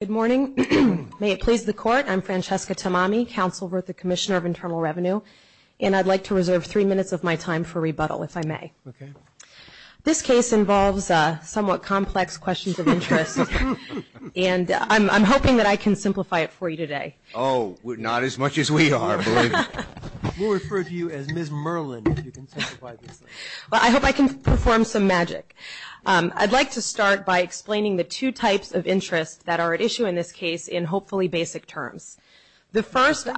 Good morning. May it please the Court, I'm Francesca Tamami, Counsel for the Commissioner of Internal Revenue, and I'd like to reserve three minutes of my time for rebuttal, if I may. Okay. This case involves somewhat complex questions of interest, and I'm hoping that I can simplify it for you today. Oh, not as much as we are, believe me. We'll refer to you as Ms. Merlin if you can simplify this. Well, I hope I can perform some magic. I'd like to start by explaining the two types of interest that are at issue in this case in hopefully basic terms. The first- I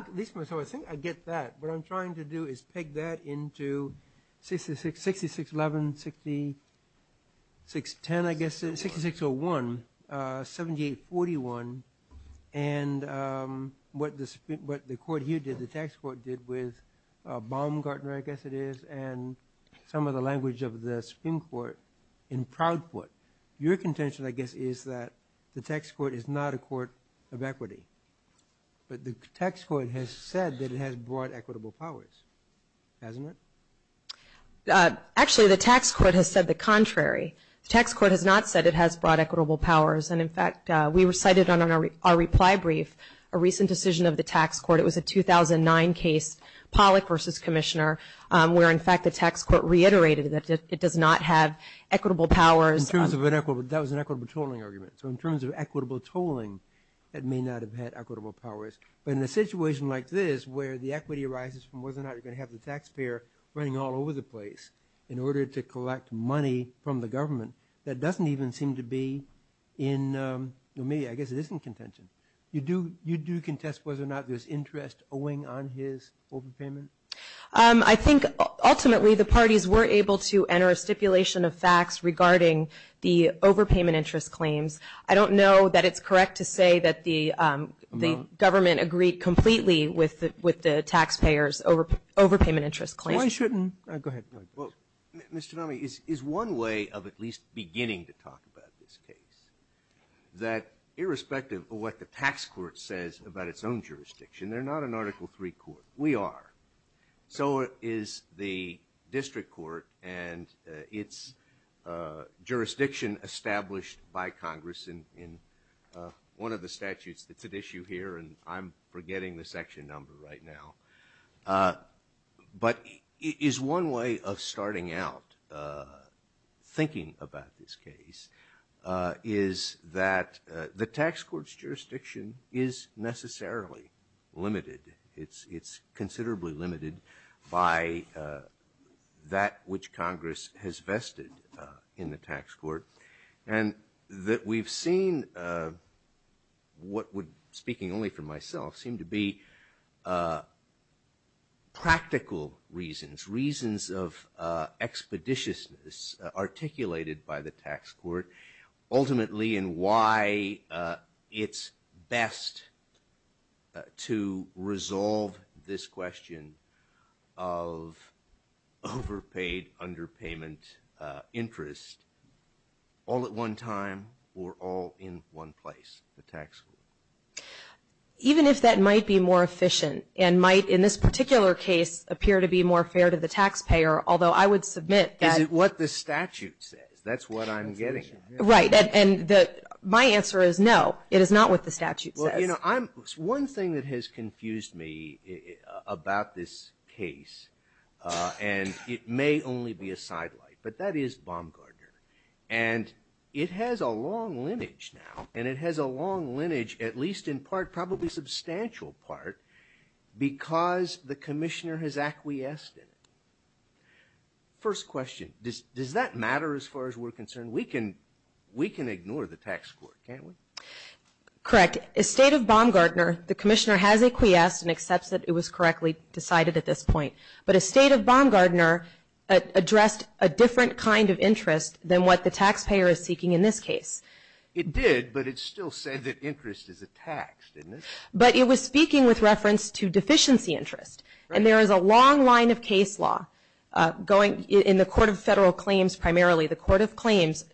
think I get that. What I'm trying to do is peg that into 6611, 6610, I guess, 6601, 7841, and what the Court here did, the Tax Court did with Baumgartner, I guess it is, and some of the language of the Supreme Court in Proudfoot. Your contention, I guess, is that the Tax Court is not a court of equity, but the Tax Court has said that it has broad equitable powers, hasn't it? Actually, the Tax Court has said the contrary. The Tax Court has not said it has broad equitable powers, and in fact we recited on our reply brief a recent decision of the Tax Court. It was a 2009 case, Pollack v. Commissioner, where, in fact, the Tax Court reiterated that it does not have equitable powers. That was an equitable tolling argument. So in terms of equitable tolling, it may not have had equitable powers. But in a situation like this where the equity arises from whether or not you're going to have the taxpayer running all over the place in order to collect money from the government, that doesn't even seem to be in the media. I guess it is in contention. You do contest whether or not there's interest owing on his overpayment? I think, ultimately, the parties were able to enter a stipulation of facts regarding the overpayment interest claims. I don't know that it's correct to say that the government agreed completely with the taxpayers' overpayment interest claims. Why shouldn't? Go ahead. Well, Mr. Tanami, is one way of at least beginning to talk about this case, that irrespective of what the Tax Court says about its own jurisdiction, they're not an Article III court. We are. So is the District Court and its jurisdiction established by Congress in one of the statutes that's at issue here, and I'm forgetting the section number right now. But is one way of starting out thinking about this case is that the Tax Court's jurisdiction is necessarily limited. It's considerably limited by that which Congress has vested in the Tax Court, and that we've seen what would, speaking only for myself, seem to be practical reasons, reasons of expeditiousness articulated by the Tax Court, and why it's best to resolve this question of overpaid underpayment interest all at one time or all in one place, the Tax Court. Even if that might be more efficient and might, in this particular case, appear to be more fair to the taxpayer, although I would submit that – Is it what the statute says? That's what I'm getting at. Right. And my answer is no. It is not what the statute says. Well, you know, one thing that has confused me about this case, and it may only be a sidelight, but that is Baumgardner. And it has a long lineage now, and it has a long lineage, at least in part, probably a substantial part, because the Commissioner has acquiesced in it. First question, does that matter as far as we're concerned? We can ignore the Tax Court, can't we? Correct. As State of Baumgardner, the Commissioner has acquiesced and accepts that it was correctly decided at this point. But as State of Baumgardner, it addressed a different kind of interest than what the taxpayer is seeking in this case. It did, but it still said that interest is a tax, didn't it? But it was speaking with reference to deficiency interest. And there is a long line of case law going in the Court of Federal Claims primarily, the Court of Claims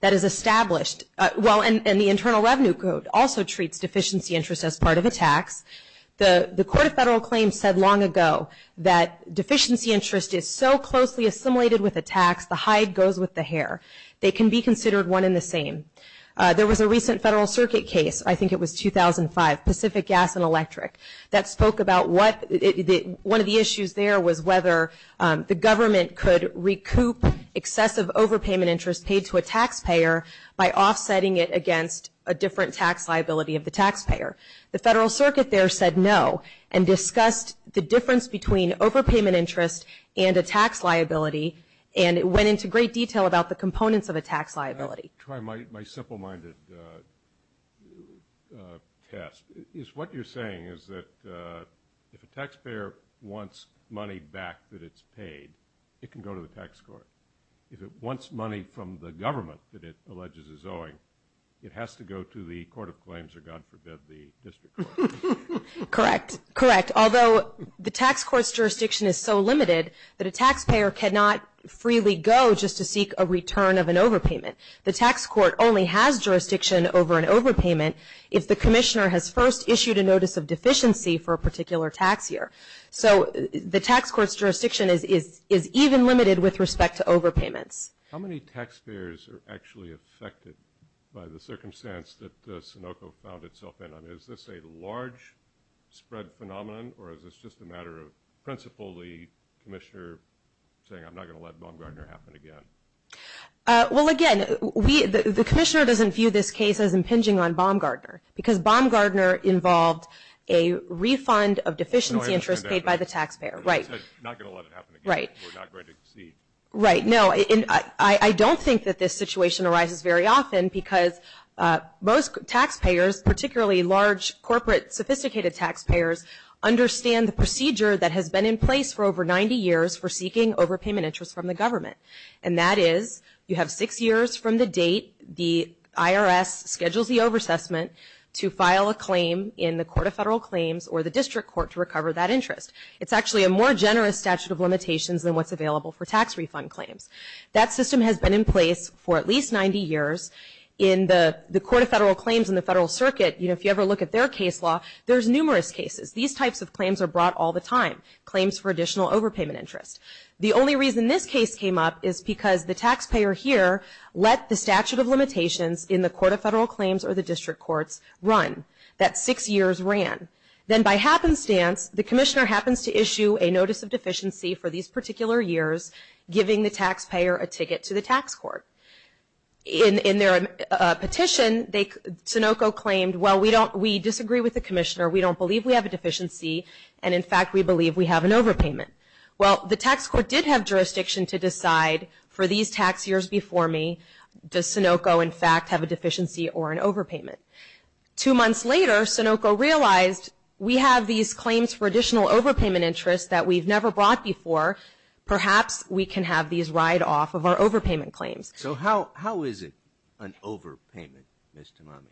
that is established. Well, and the Internal Revenue Code also treats deficiency interest as part of a tax. The Court of Federal Claims said long ago that deficiency interest is so closely assimilated with a tax, the hide goes with the hair. They can be considered one and the same. There was a recent Federal Circuit case, I think it was 2005, Pacific Gas and Electric, that spoke about one of the issues there was whether the government could recoup excessive overpayment interest paid to a taxpayer by offsetting it against a different tax liability of the taxpayer. The Federal Circuit there said no and discussed the difference between overpayment interest and a tax liability and went into great detail about the components of a tax liability. I'm going to try my simple-minded test. What you're saying is that if a taxpayer wants money back that it's paid, it can go to the tax court. If it wants money from the government that it alleges is owing, it has to go to the Court of Claims or, God forbid, the district court. Correct, correct. Although the tax court's jurisdiction is so limited that a taxpayer cannot freely go just to seek a return of an overpayment, the tax court only has jurisdiction over an overpayment if the commissioner has first issued a notice of deficiency for a particular tax year. So the tax court's jurisdiction is even limited with respect to overpayments. How many taxpayers are actually affected by the circumstance that the Sunoco found itself in? I mean, is this a large-spread phenomenon, or is this just a matter of principally the commissioner saying, I'm not going to let Baumgardner happen again? Well, again, the commissioner doesn't view this case as impinging on Baumgardner because Baumgardner involved a refund of deficiency interest paid by the taxpayer. Right. Not going to let it happen again. Right. We're not going to exceed. Right. No, I don't think that this situation arises very often because most taxpayers, particularly large, corporate, sophisticated taxpayers, understand the procedure that has been in place for over 90 years for seeking overpayment interest from the government, and that is you have six years from the date the IRS schedules the over-assessment to file a claim in the Court of Federal Claims or the district court to recover that interest. It's actually a more generous statute of limitations than what's available for tax refund claims. That system has been in place for at least 90 years. In the Court of Federal Claims and the Federal Circuit, you know, if you ever look at their case law, there's numerous cases. These types of claims are brought all the time, claims for additional overpayment interest. The only reason this case came up is because the taxpayer here let the statute of limitations in the Court of Federal Claims or the district courts run. That six years ran. Then by happenstance, the commissioner happens to issue a notice of deficiency for these particular years, giving the taxpayer a ticket to the tax court. In their petition, Sunoco claimed, well, we disagree with the commissioner. We don't believe we have a deficiency, and, in fact, we believe we have an overpayment. Well, the tax court did have jurisdiction to decide for these tax years before me, does Sunoco, in fact, have a deficiency or an overpayment? Two months later, Sunoco realized we have these claims for additional overpayment interest that we've never brought before. Perhaps we can have these ride off of our overpayment claims. So how is it an overpayment, Ms. Tamami?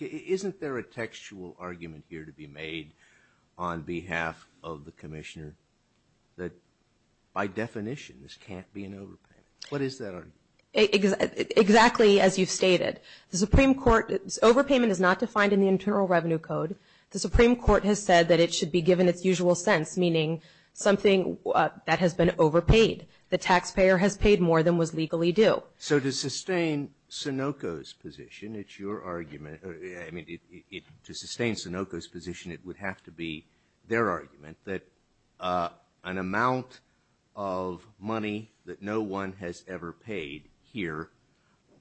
Isn't there a textual argument here to be made on behalf of the commissioner that by definition this can't be an overpayment? What is that argument? Exactly as you've stated. The Supreme Court, overpayment is not defined in the Internal Revenue Code. The Supreme Court has said that it should be given its usual sense, meaning something that has been overpaid. The taxpayer has paid more than was legally due. So to sustain Sunoco's position, it's your argument, I mean, to sustain Sunoco's position, it would have to be their argument that an amount of money that no one has ever paid here,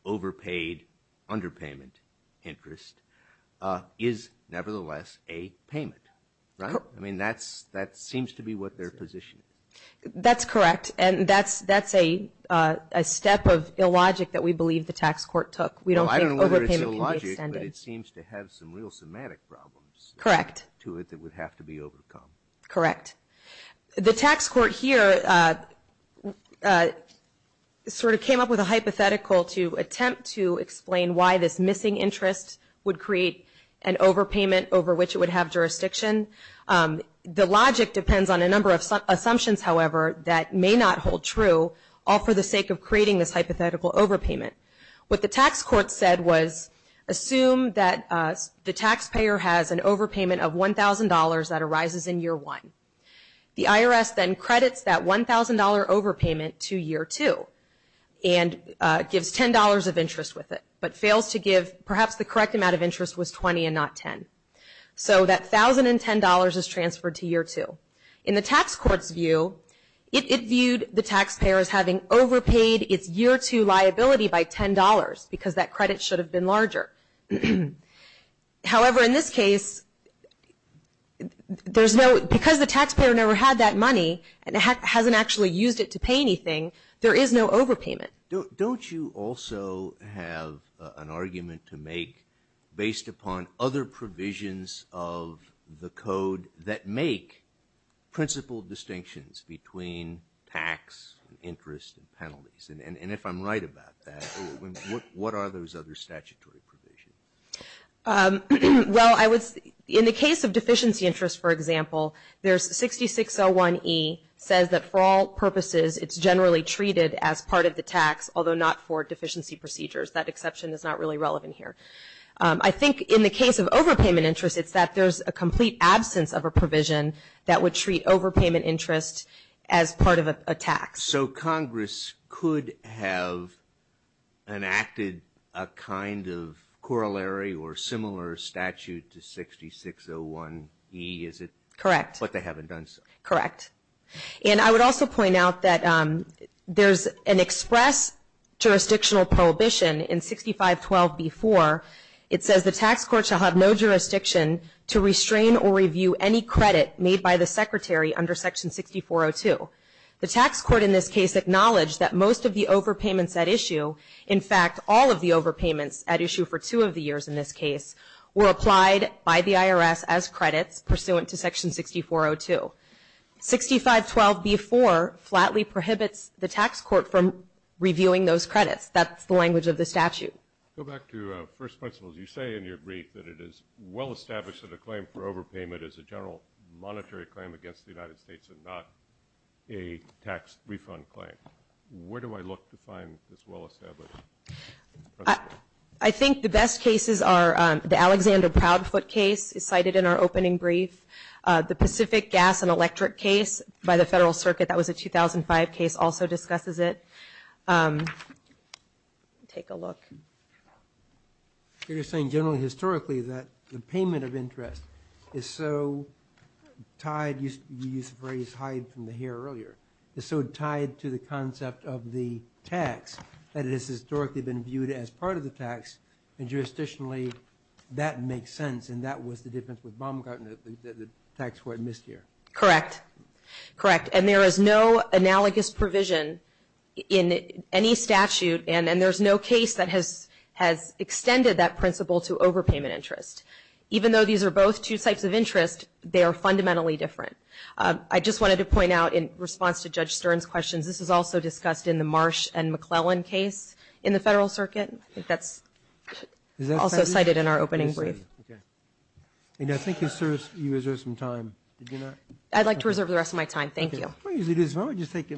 overpaid underpayment interest, is nevertheless a payment, right? I mean, that seems to be what they're positioning. That's correct. And that's a step of illogic that we believe the tax court took. We don't think overpayment can be extended. I don't know whether it's illogic, but it seems to have some real somatic problems to it that would have to be overcome. Correct. interest would create an overpayment over which it would have jurisdiction. The logic depends on a number of assumptions, however, that may not hold true, all for the sake of creating this hypothetical overpayment. What the tax court said was assume that the taxpayer has an overpayment of $1,000 that arises in year one. The IRS then credits that $1,000 overpayment to year two and gives $10 of interest with it, but fails to give perhaps the correct amount of interest was $20 and not $10. So that $1,010 is transferred to year two. In the tax court's view, it viewed the taxpayer as having overpaid its year two liability by $10 because that credit should have been larger. However, in this case, because the taxpayer never had that money and hasn't actually used it to pay anything, there is no overpayment. Don't you also have an argument to make based upon other provisions of the code that make principled distinctions between tax, interest, and penalties? And if I'm right about that, what are those other statutory provisions? Well, in the case of deficiency interest, for example, there's 6601E says that for all purposes it's generally treated as part of the tax, although not for deficiency procedures. That exception is not really relevant here. I think in the case of overpayment interest, it's that there's a complete absence of a provision that would treat overpayment interest as part of a tax. So Congress could have enacted a kind of corollary or similar statute to 6601E, is it? Correct. But they haven't done so. Correct. And I would also point out that there's an express jurisdictional prohibition in 6512B4. It says the tax court shall have no jurisdiction to restrain or review any credit made by the Secretary under Section 6402. The tax court in this case acknowledged that most of the overpayments at issue, in fact all of the overpayments at issue for two of the years in this case, were applied by the IRS as credits pursuant to Section 6402. 6512B4 flatly prohibits the tax court from reviewing those credits. That's the language of the statute. Go back to first principles. You say in your brief that it is well established that a claim for overpayment is a general monetary claim against the United States and not a tax refund claim. Where do I look to find this well established principle? I think the best cases are the Alexander Proudfoot case cited in our opening brief. The Pacific Gas and Electric case by the Federal Circuit, that was a 2005 case, also discusses it. Take a look. You're saying generally historically that the payment of interest is so tied, you used the phrase hide from the hair earlier, is so tied to the concept of the tax that it has historically been viewed as part of the tax and jurisdictionally that makes sense and that was the difference with Baumgartner that the tax court missed here. Correct. Correct. And there is no analogous provision in any statute and there's no case that has extended that principle to overpayment interest. Even though these are both two types of interest, they are fundamentally different. I just wanted to point out in response to Judge Stern's questions, this is also discussed in the Marsh and McClellan case in the Federal Circuit. I think that's also cited in our opening brief. I think you reserved some time. I'd like to reserve the rest of my time. Thank you. Why don't we just take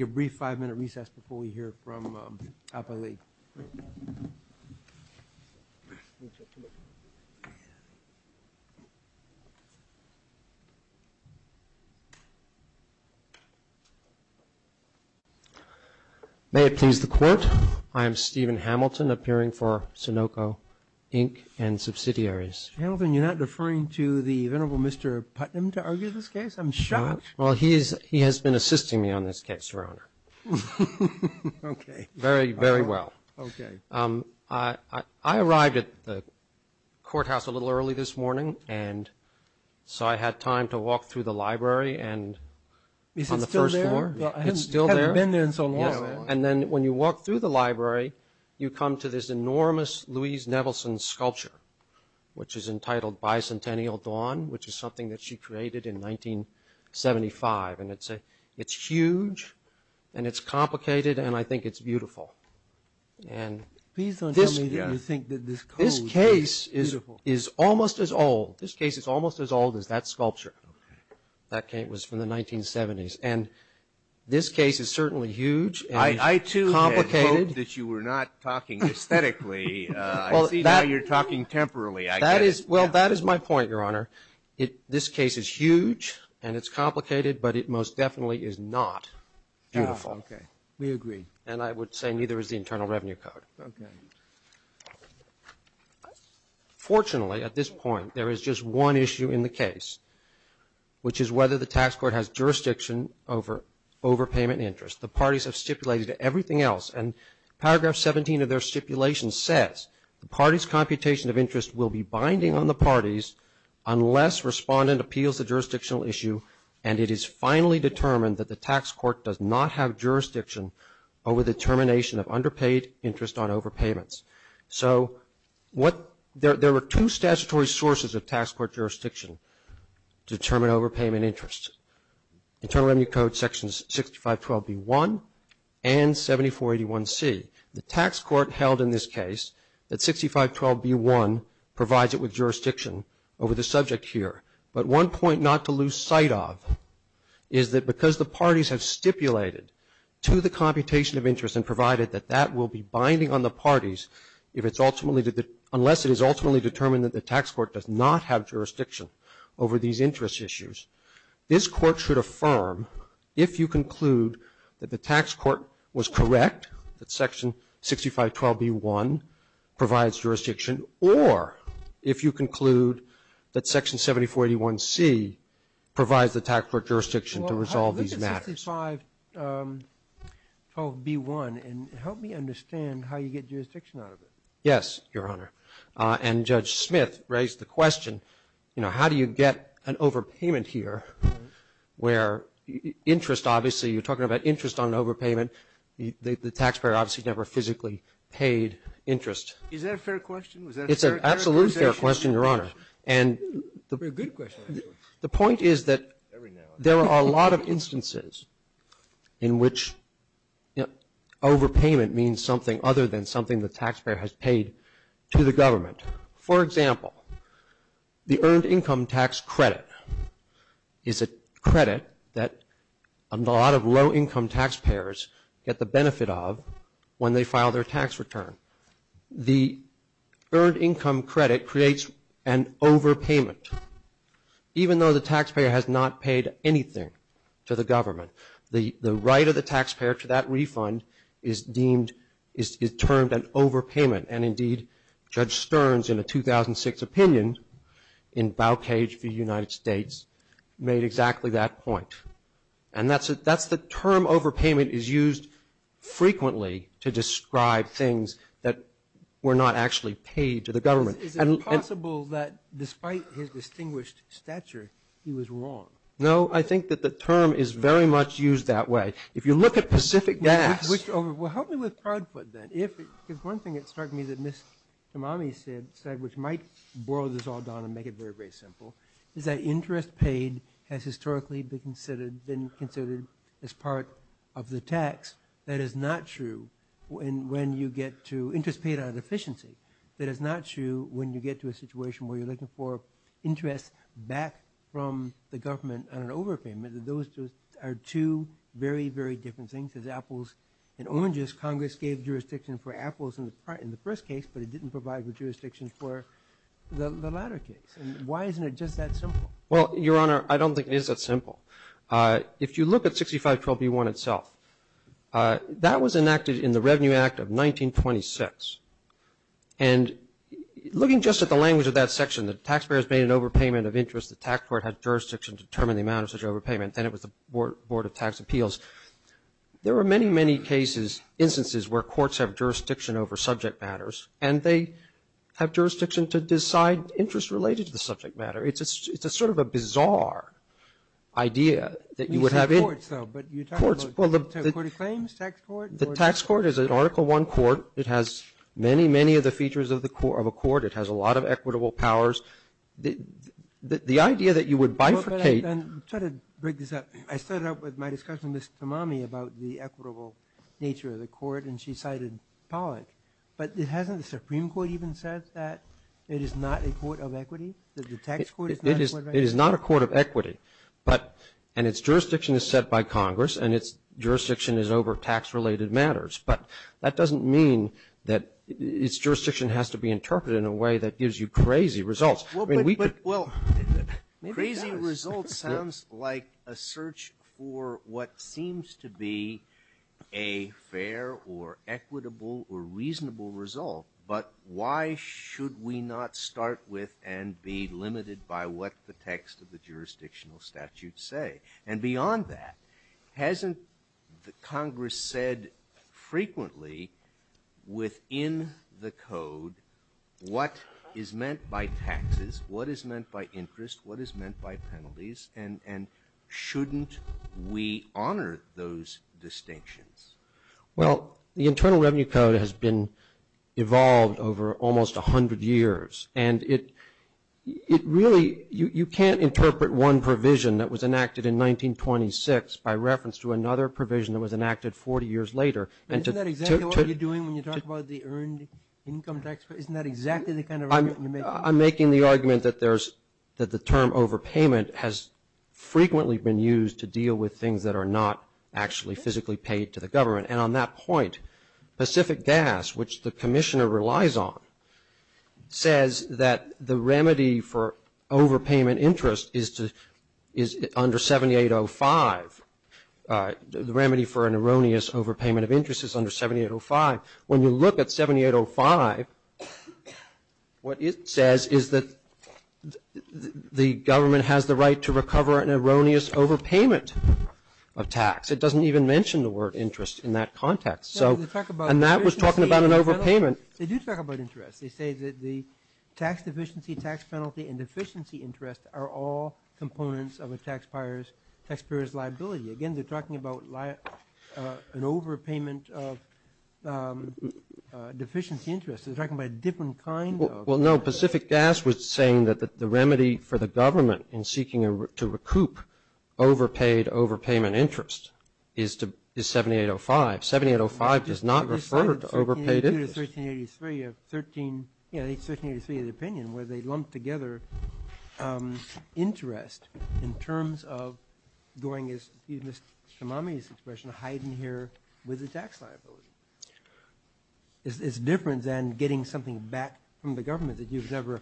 a brief five-minute recess before we hear from Alpha League. May it please the Court. I am Stephen Hamilton, appearing for Sunoco, Inc. and subsidiaries. Hamilton, you're not referring to the Venerable Mr. Putnam to argue this case? I'm shocked. Well, he has been assisting me on this case, Your Honor. Okay. Very, very well. Okay. I arrived at the courthouse a little early this morning and so I had time to walk through the library and on the first floor. Is it still there? It's still there. I haven't been there in so long. And then when you walk through the library, you come to this enormous Louise Nevelson sculpture, which is entitled Bicentennial Dawn, which is something that she created in 1975. And it's huge and it's complicated and I think it's beautiful. Please don't tell me that you think that this coat is beautiful. This case is almost as old. This case is almost as old as that sculpture. Okay. That case was from the 1970s. And this case is certainly huge and complicated. I hope that you were not talking aesthetically. I see now you're talking temporally. Well, that is my point, Your Honor. This case is huge and it's complicated, but it most definitely is not beautiful. Okay. We agree. And I would say neither is the Internal Revenue Code. Okay. Fortunately, at this point, there is just one issue in the case, which is whether the tax court has jurisdiction over overpayment interest. The parties have stipulated everything else. And Paragraph 17 of their stipulation says, the party's computation of interest will be binding on the parties unless respondent appeals to jurisdictional issue and it is finally determined that the tax court does not have jurisdiction over the termination of underpaid interest on overpayments. So there are two statutory sources of tax court jurisdiction to determine overpayment interest. Internal Revenue Code sections 6512B1 and 7481C. The tax court held in this case that 6512B1 provides it with jurisdiction over the subject here. But one point not to lose sight of is that because the parties have stipulated to the computation of interest and provided that that will be binding on the parties unless it is ultimately determined that the tax court does not have jurisdiction over these interest issues. This Court should affirm if you conclude that the tax court was correct, that section 6512B1 provides jurisdiction, or if you conclude that section 7481C provides the tax court jurisdiction to resolve these matters. Sotomayor, I believe it's 6512B1. And help me understand how you get jurisdiction out of it. Yes, Your Honor. And Judge Smith raised the question, you know, how do you get an overpayment here where interest obviously, you're talking about interest on overpayment, the taxpayer obviously never physically paid interest. Is that a fair question? It's an absolutely fair question, Your Honor. And the point is that there are a lot of instances in which overpayment means something other than something the taxpayer has paid to the government. For example, the earned income tax credit is a credit that a lot of low-income taxpayers get the benefit of when they file their tax return. The earned income credit creates an overpayment. Even though the taxpayer has not paid anything to the government, the right of the taxpayer to that refund is deemed, is termed an overpayment. And indeed, Judge Stearns in a 2006 opinion in Bowcage v. United States made exactly that point. And that's the term overpayment is used frequently to describe things that were not actually paid to the government. Is it possible that despite his distinguished stature, he was wrong? No, I think that the term is very much used that way. If you look at Pacific Gas – Well, help me with Proudfoot then. If there's one thing that struck me that Ms. Tamami said, which might boil this all down and make it very, very simple, is that interest paid has historically been considered as part of the tax. That is not true when you get to interest paid out of deficiency. That is not true when you get to a situation where you're looking for interest back from the government on an overpayment. Those are two very, very different things. As apples and oranges, Congress gave jurisdiction for apples in the first case, but it didn't provide the jurisdiction for the latter case. And why isn't it just that simple? Well, Your Honor, I don't think it is that simple. If you look at 6512b1 itself, that was enacted in the Revenue Act of 1926. And looking just at the language of that section, the taxpayer has made an overpayment of interest. The tax court has jurisdiction to determine the amount of such overpayment. Then it was the Board of Tax Appeals. There are many, many cases, instances where courts have jurisdiction over subject matters, and they have jurisdiction to decide interest related to the subject matter. It's a sort of a bizarre idea that you would have in courts. We say courts, though, but you're talking about court of claims, tax court? The tax court is an Article I court. It has many, many of the features of a court. It has a lot of equitable powers. The idea that you would bifurcate. I'm trying to break this up. I started out with my discussion with Ms. Tamami about the equitable nature of the court, and she cited Pollack. But hasn't the Supreme Court even said that it is not a court of equity, that the tax court is not a court of equity? It is not a court of equity. And its jurisdiction is set by Congress, and its jurisdiction is over tax-related matters. But that doesn't mean that its jurisdiction has to be interpreted in a way that gives you crazy results. I mean, we could ---- Well, crazy results sounds like a search for what seems to be a fair or equitable or reasonable result. But why should we not start with and be limited by what the text of the jurisdictional statute say? And beyond that, hasn't Congress said frequently within the code what is meant by taxes, what is meant by interest, what is meant by penalties? And shouldn't we honor those distinctions? Well, the Internal Revenue Code has been evolved over almost 100 years. And it really, you can't interpret one provision that was enacted in 1926 by reference to another provision that was enacted 40 years later. Isn't that exactly what you're doing when you talk about the earned income tax credit? Isn't that exactly the kind of argument you're making? I'm making the argument that the term overpayment has frequently been used to deal with things that are not actually physically paid to the government. And on that point, Pacific Gas, which the commissioner relies on, says that the remedy for overpayment interest is under 7805. The remedy for an erroneous overpayment of interest is under 7805. When you look at 7805, what it says is that the government has the right to recover an erroneous overpayment of tax. It doesn't even mention the word interest in that context. And that was talking about an overpayment. They do talk about interest. They say that the tax deficiency, tax penalty, and deficiency interest are all components of a taxpayer's liability. Again, they're talking about an overpayment of deficiency interest. They're talking about a different kind of. Well, no, Pacific Gas was saying that the remedy for the government in seeking to recover an erroneous overpayment of interest is 7805. 7805 does not refer to overpaid interest. 1383 of the opinion where they lumped together interest in terms of going as Mr. Kamami's expression, hiding here with the tax liability. It's different than getting something back from the government that you've never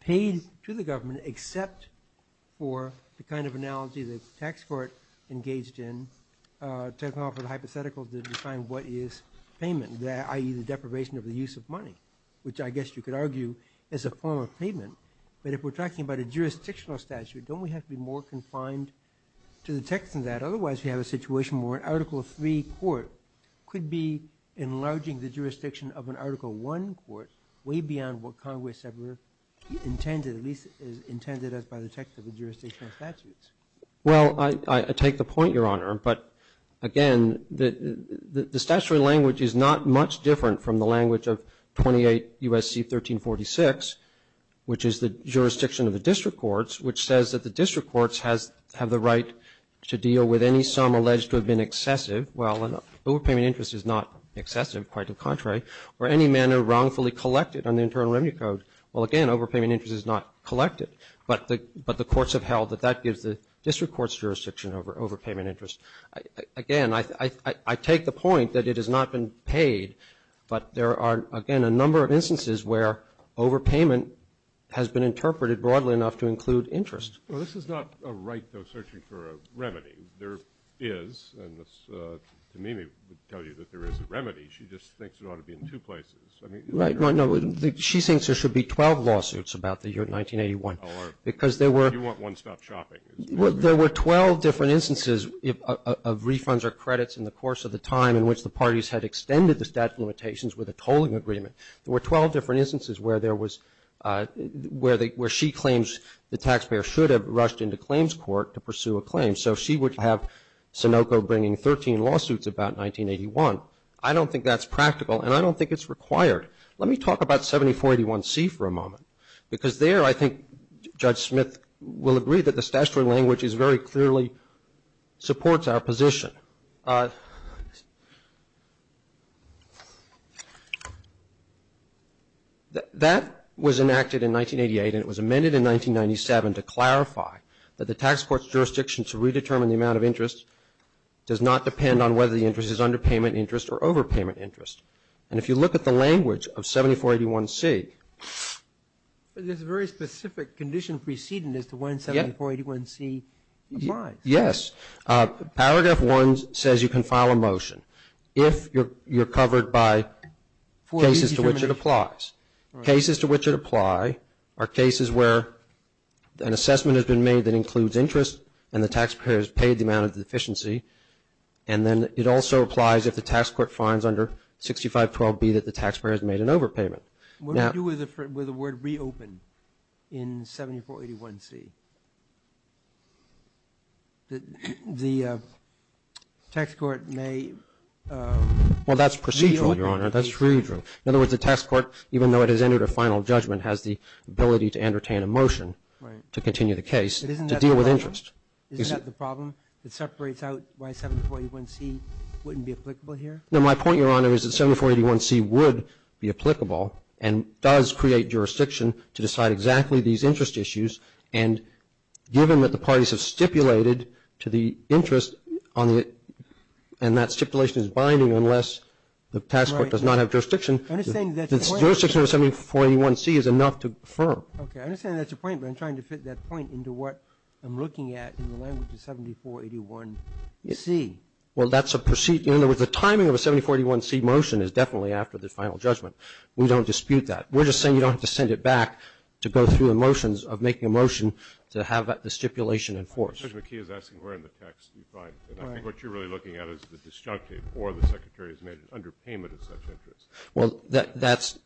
paid to the government except for the kind of analogy that the tax court engaged in to come up with a hypothetical to define what is payment, i.e., the deprivation of the use of money, which I guess you could argue is a form of payment. But if we're talking about a jurisdictional statute, don't we have to be more confined to the text than that? Otherwise, we have a situation where an Article III court could be enlarging the jurisdiction of an Article I court way beyond what Congress ever intended, at least as intended as by the text of the jurisdictional statutes. Well, I take the point, Your Honor. But, again, the statutory language is not much different from the language of 28 U.S.C. 1346, which is the jurisdiction of the district courts, which says that the district courts have the right to deal with any sum alleged to have been excessive. Well, an overpayment of interest is not excessive. Quite the contrary. Or any manner wrongfully collected on the Internal Revenue Code. Well, again, overpayment of interest is not collected. But the courts have held that that gives the district courts jurisdiction over overpayment of interest. Again, I take the point that it has not been paid, but there are, again, a number of instances where overpayment has been interpreted broadly enough to include interest. Well, this is not a right, though, searching for a remedy. There is, and Tamimi would tell you that there is a remedy. She just thinks it ought to be in two places. Right. No, she thinks there should be 12 lawsuits about the year 1981. Because there were. You want one-stop shopping. There were 12 different instances of refunds or credits in the course of the time in which the parties had extended the statute of limitations with a tolling agreement. There were 12 different instances where there was, where she claims the taxpayer should have rushed into claims court to pursue a claim. So she would have Sunoco bringing 13 lawsuits about 1981. I don't think that's practical, and I don't think it's required. Let me talk about 7481C for a moment, because there I think Judge Smith will agree that the statutory language is very clearly supports our position. That was enacted in 1988, and it was amended in 1997 to clarify that the tax court's jurisdiction to redetermine the amount of interest does not depend on whether the interest is underpayment interest or overpayment interest. And if you look at the language of 7481C. There's a very specific condition preceding as to when 7481C applies. Yes. Paragraph 1 says you can file a motion if you're covered by cases to which it applies. Cases to which it applies are cases where an assessment has been made that includes interest and the taxpayer has paid the amount of the deficiency, and then it also applies if the tax court finds under 6512B that the taxpayer has made an overpayment. What do you do with the word reopen in 7481C? The tax court may reopen. Well, that's procedural, Your Honor. That's procedural. In other words, the tax court, even though it has entered a final judgment, has the ability to entertain a motion to continue the case to deal with interest. Isn't that the problem? It separates out why 7481C wouldn't be applicable here? No. My point, Your Honor, is that 7481C would be applicable and does create jurisdiction to decide exactly these interest issues. And given that the parties have stipulated to the interest on it and that stipulation is binding unless the tax court does not have jurisdiction, the jurisdiction of 7481C is enough to affirm. Okay. I understand that's a point, but I'm trying to fit that point into what I'm looking at in the language of 7481C. Well, that's a procedure. In other words, the timing of a 7481C motion is definitely after the final judgment. We don't dispute that. We're just saying you don't have to send it back to go through the motions of making a motion to have the stipulation enforced. Judge McKee is asking where in the text you find it. And I think what you're really looking at is the disjunctive or the Secretary has made an underpayment of such interest. Well, that's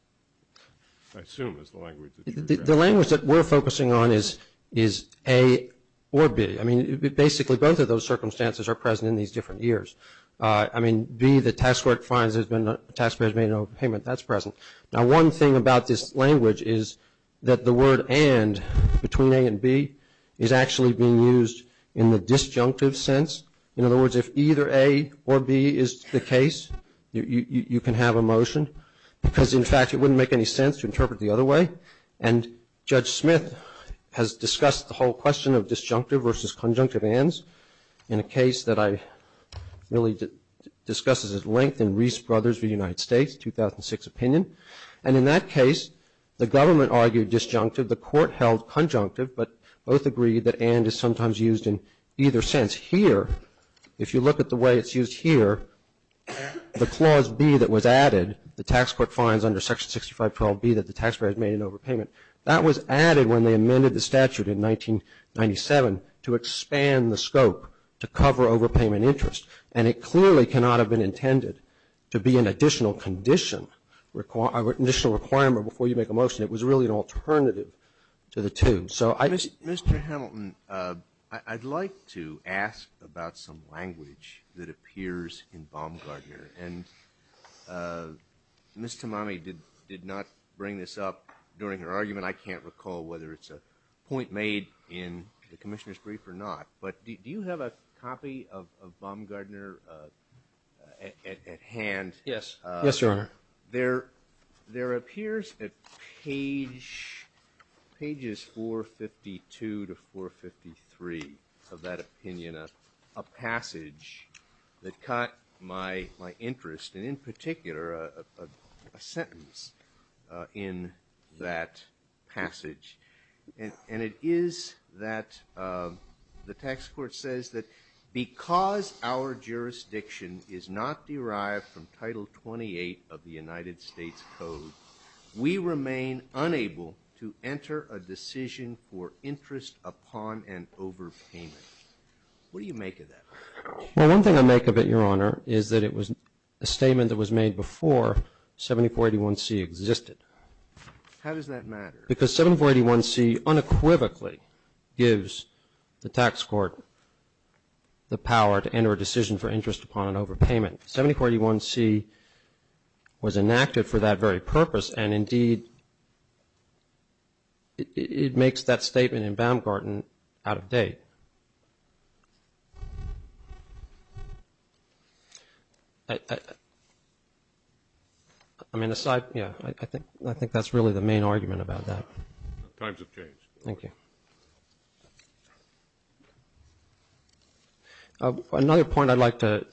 the language that we're focusing on is A or B. I mean, basically both of those circumstances are present in these different years. I mean, B, the tax court finds the taxpayer has made an overpayment. That's present. Now, one thing about this language is that the word and between A and B is actually being used in the disjunctive sense. In other words, if either A or B is the case, you can have a motion. Because, in fact, it wouldn't make any sense to interpret it the other way. And Judge Smith has discussed the whole question of disjunctive versus conjunctive ands in a case that I really discussed at length in Reese Brothers v. United States, 2006 opinion. And in that case, the government argued disjunctive. The court held conjunctive. But both agreed that and is sometimes used in either sense. Here, if you look at the way it's used here, the clause B that was added, the tax court finds under Section 6512B that the taxpayer has made an overpayment, that was added when they amended the statute in 1997 to expand the scope to cover overpayment interest. And it clearly cannot have been intended to be an additional condition, an additional requirement before you make a motion. It was really an alternative to the two. So I just ---- Ms. Tamami did not bring this up during her argument. I can't recall whether it's a point made in the Commissioner's brief or not. But do you have a copy of Baumgardner at hand? Yes, Your Honor. There appears at pages 452 to 453 of that opinion a passage that caught my interest, and in particular a sentence in that passage. And it is that the tax court says that because our jurisdiction is not derived from Title 28 of the United States Code, we remain unable to enter a decision for interest upon an overpayment. What do you make of that? Well, one thing I make of it, Your Honor, is that it was a statement that was made before 7481C existed. How does that matter? Because 7481C unequivocally gives the tax court the power to enter a decision for interest upon an overpayment. 7481C was enacted for that very purpose, and indeed it makes that statement in Baumgarten out of date. I think that's really the main argument about that. Times have changed. Thank you. Another point I'd like to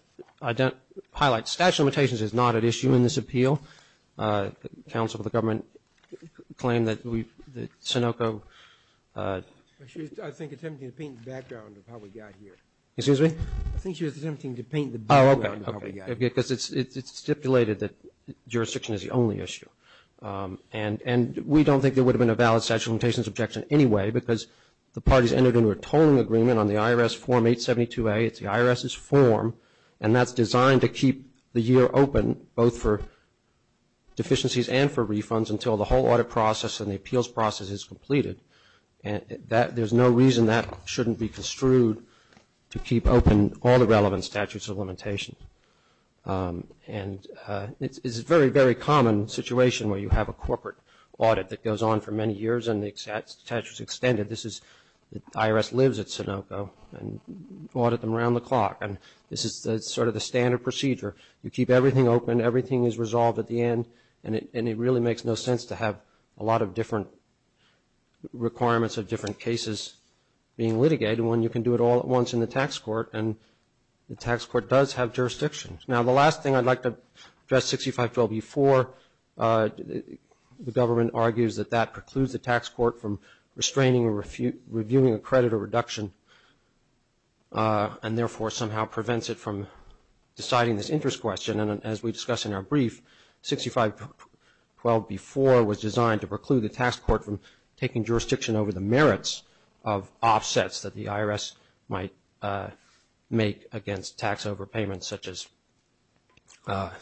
highlight, statute of limitations is not at issue in this appeal. The counsel of the government claimed that we, that Sunoco. I think she was attempting to paint the background of how we got here. Excuse me? I think she was attempting to paint the background of how we got here. Oh, okay. Because it's stipulated that jurisdiction is the only issue. And we don't think there would have been a valid statute of limitations objection anyway because the parties entered into a tolling agreement on the IRS Form 872A. It's the IRS's form, and that's designed to keep the year open both for deficiencies and for refunds until the whole audit process and the appeals process is completed. And there's no reason that shouldn't be construed to keep open all the relevant statutes of limitations. And it's a very, very common situation where you have a corporate audit that goes on for many years and the statute is extended. The IRS lives at Sunoco and audit them around the clock, and this is sort of the standard procedure. You keep everything open. Everything is resolved at the end, and it really makes no sense to have a lot of different requirements of different cases being litigated when you can do it all at once in the tax court, and the tax court does have jurisdictions. Now, the last thing I'd like to address 6512B4, the government argues that that precludes the tax court from restraining or reviewing a credit or reduction and, therefore, somehow prevents it from deciding this interest question. And as we discussed in our brief, 6512B4 was designed to preclude the tax court from taking jurisdiction over the merits of offsets that the IRS might make against tax overpayments, such as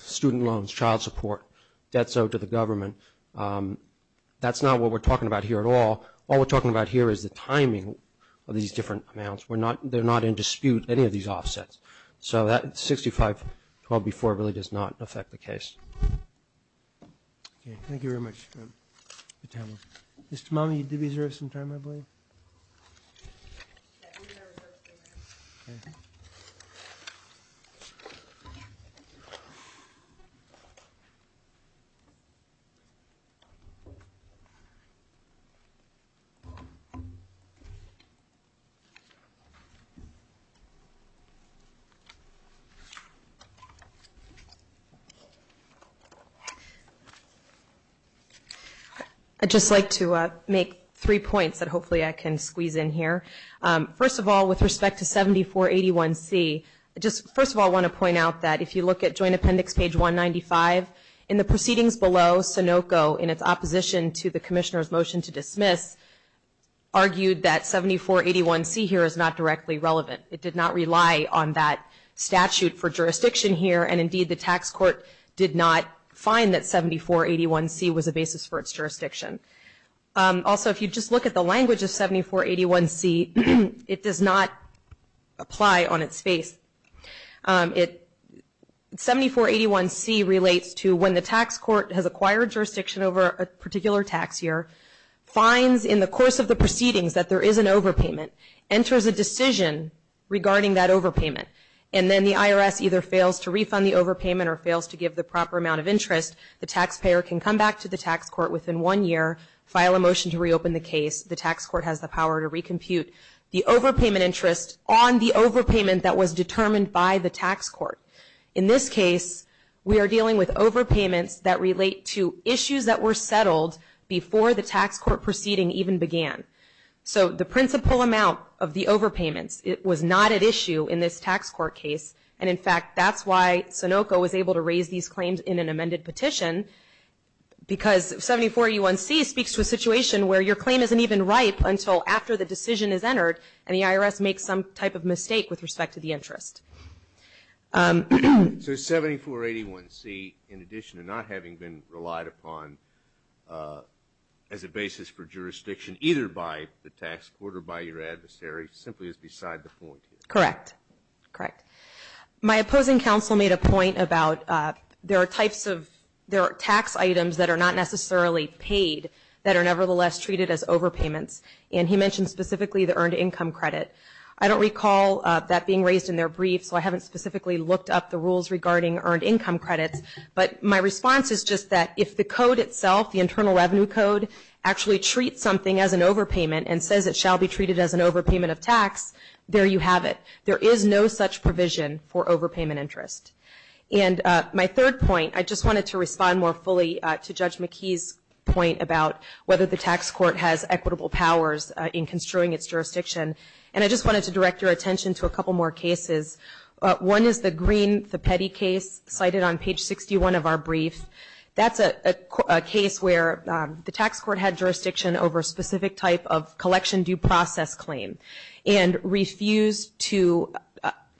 student loans, child support, debts owed to the government. That's not what we're talking about here at all. All we're talking about here is the timing of these different amounts. They're not in dispute, any of these offsets. So 6512B4 really does not affect the case. Thank you very much. Mr. Malmey, did we reserve some time, I believe? I'd just like to make three points that hopefully I can squeeze in here. First of all, with respect to 7481C, I just first of all want to point out that if you look at Joint Appendix page 195, in the proceedings below, Sunoco, in its opposition to the Commissioner's motion to dismiss, argued that 7481C here is not directly relevant. It did not rely on that statute for jurisdiction here, and indeed the tax court did not find that 7481C was a basis for its jurisdiction. Also, if you just look at the language of 7481C, it does not apply on its face. 7481C relates to when the tax court has acquired jurisdiction over a particular tax year, finds in the course of the proceedings that there is an overpayment, enters a decision regarding that overpayment, and then the IRS either fails to refund the overpayment or fails to give the proper amount of interest, the taxpayer can come back to the tax court within one year, file a motion to reopen the case, the tax court has the power to recompute the overpayment interest on the overpayment that was determined by the tax court. In this case, we are dealing with overpayments that relate to issues that were settled before the tax court proceeding even began. So the principal amount of the overpayments was not at issue in this tax court case, and in fact that's why Sunoco was able to raise these claims in an amended petition, because 7481C speaks to a situation where your claim isn't even ripe until after the decision is entered and the IRS makes some type of mistake with respect to the interest. So 7481C, in addition to not having been relied upon as a basis for jurisdiction either by the tax court or by your adversary, simply is beside the point here. Correct. Correct. My opposing counsel made a point about there are tax items that are not necessarily paid that are nevertheless treated as overpayments, and he mentioned specifically the earned income credit. I don't recall that being raised in their brief, so I haven't specifically looked up the rules regarding earned income credits, but my response is just that if the code itself, the Internal Revenue Code, actually treats something as an overpayment and says it shall be treated as an overpayment of tax, there you have it. There is no such provision for overpayment interest. And my third point, I just wanted to respond more fully to Judge McKee's point about whether the tax court has equitable powers in construing its jurisdiction, and I just wanted to direct your attention to a couple more cases. One is the green, the petty case cited on page 61 of our brief. That's a case where the tax court had jurisdiction over a specific type of collection due process claim and refused to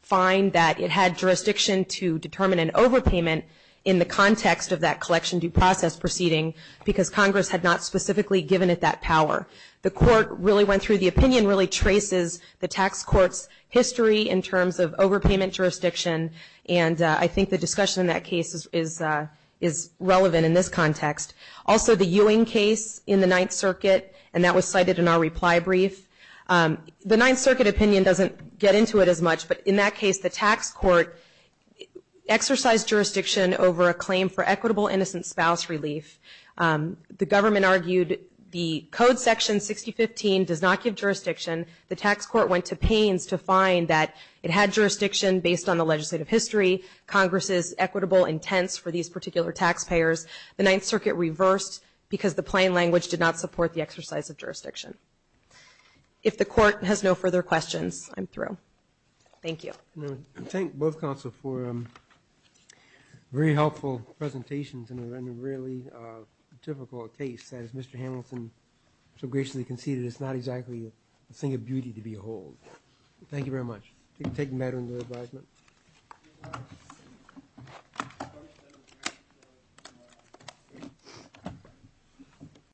find that it had jurisdiction to determine an overpayment in the context of that collection due process proceeding because Congress had not specifically given it that power. The court really went through the opinion, really traces the tax court's history in terms of overpayment jurisdiction, and I think the discussion in that case is relevant in this context. Also, the Ewing case in the Ninth Circuit, and that was cited in our reply brief. The Ninth Circuit opinion doesn't get into it as much, but in that case the tax court exercised jurisdiction over a claim for equitable innocent spouse relief. The government argued the code section 6015 does not give jurisdiction. The tax court went to pains to find that it had jurisdiction based on the legislative history, Congress's equitable intents for these particular taxpayers. The Ninth Circuit reversed because the plain language did not support the exercise of jurisdiction. If the court has no further questions, I'm through. Thank you. I thank both counsel for very helpful presentations in a really difficult case. As Mr. Hamilton so graciously conceded, it's not exactly a thing of beauty to behold. Thank you very much. Take the matter into advisement.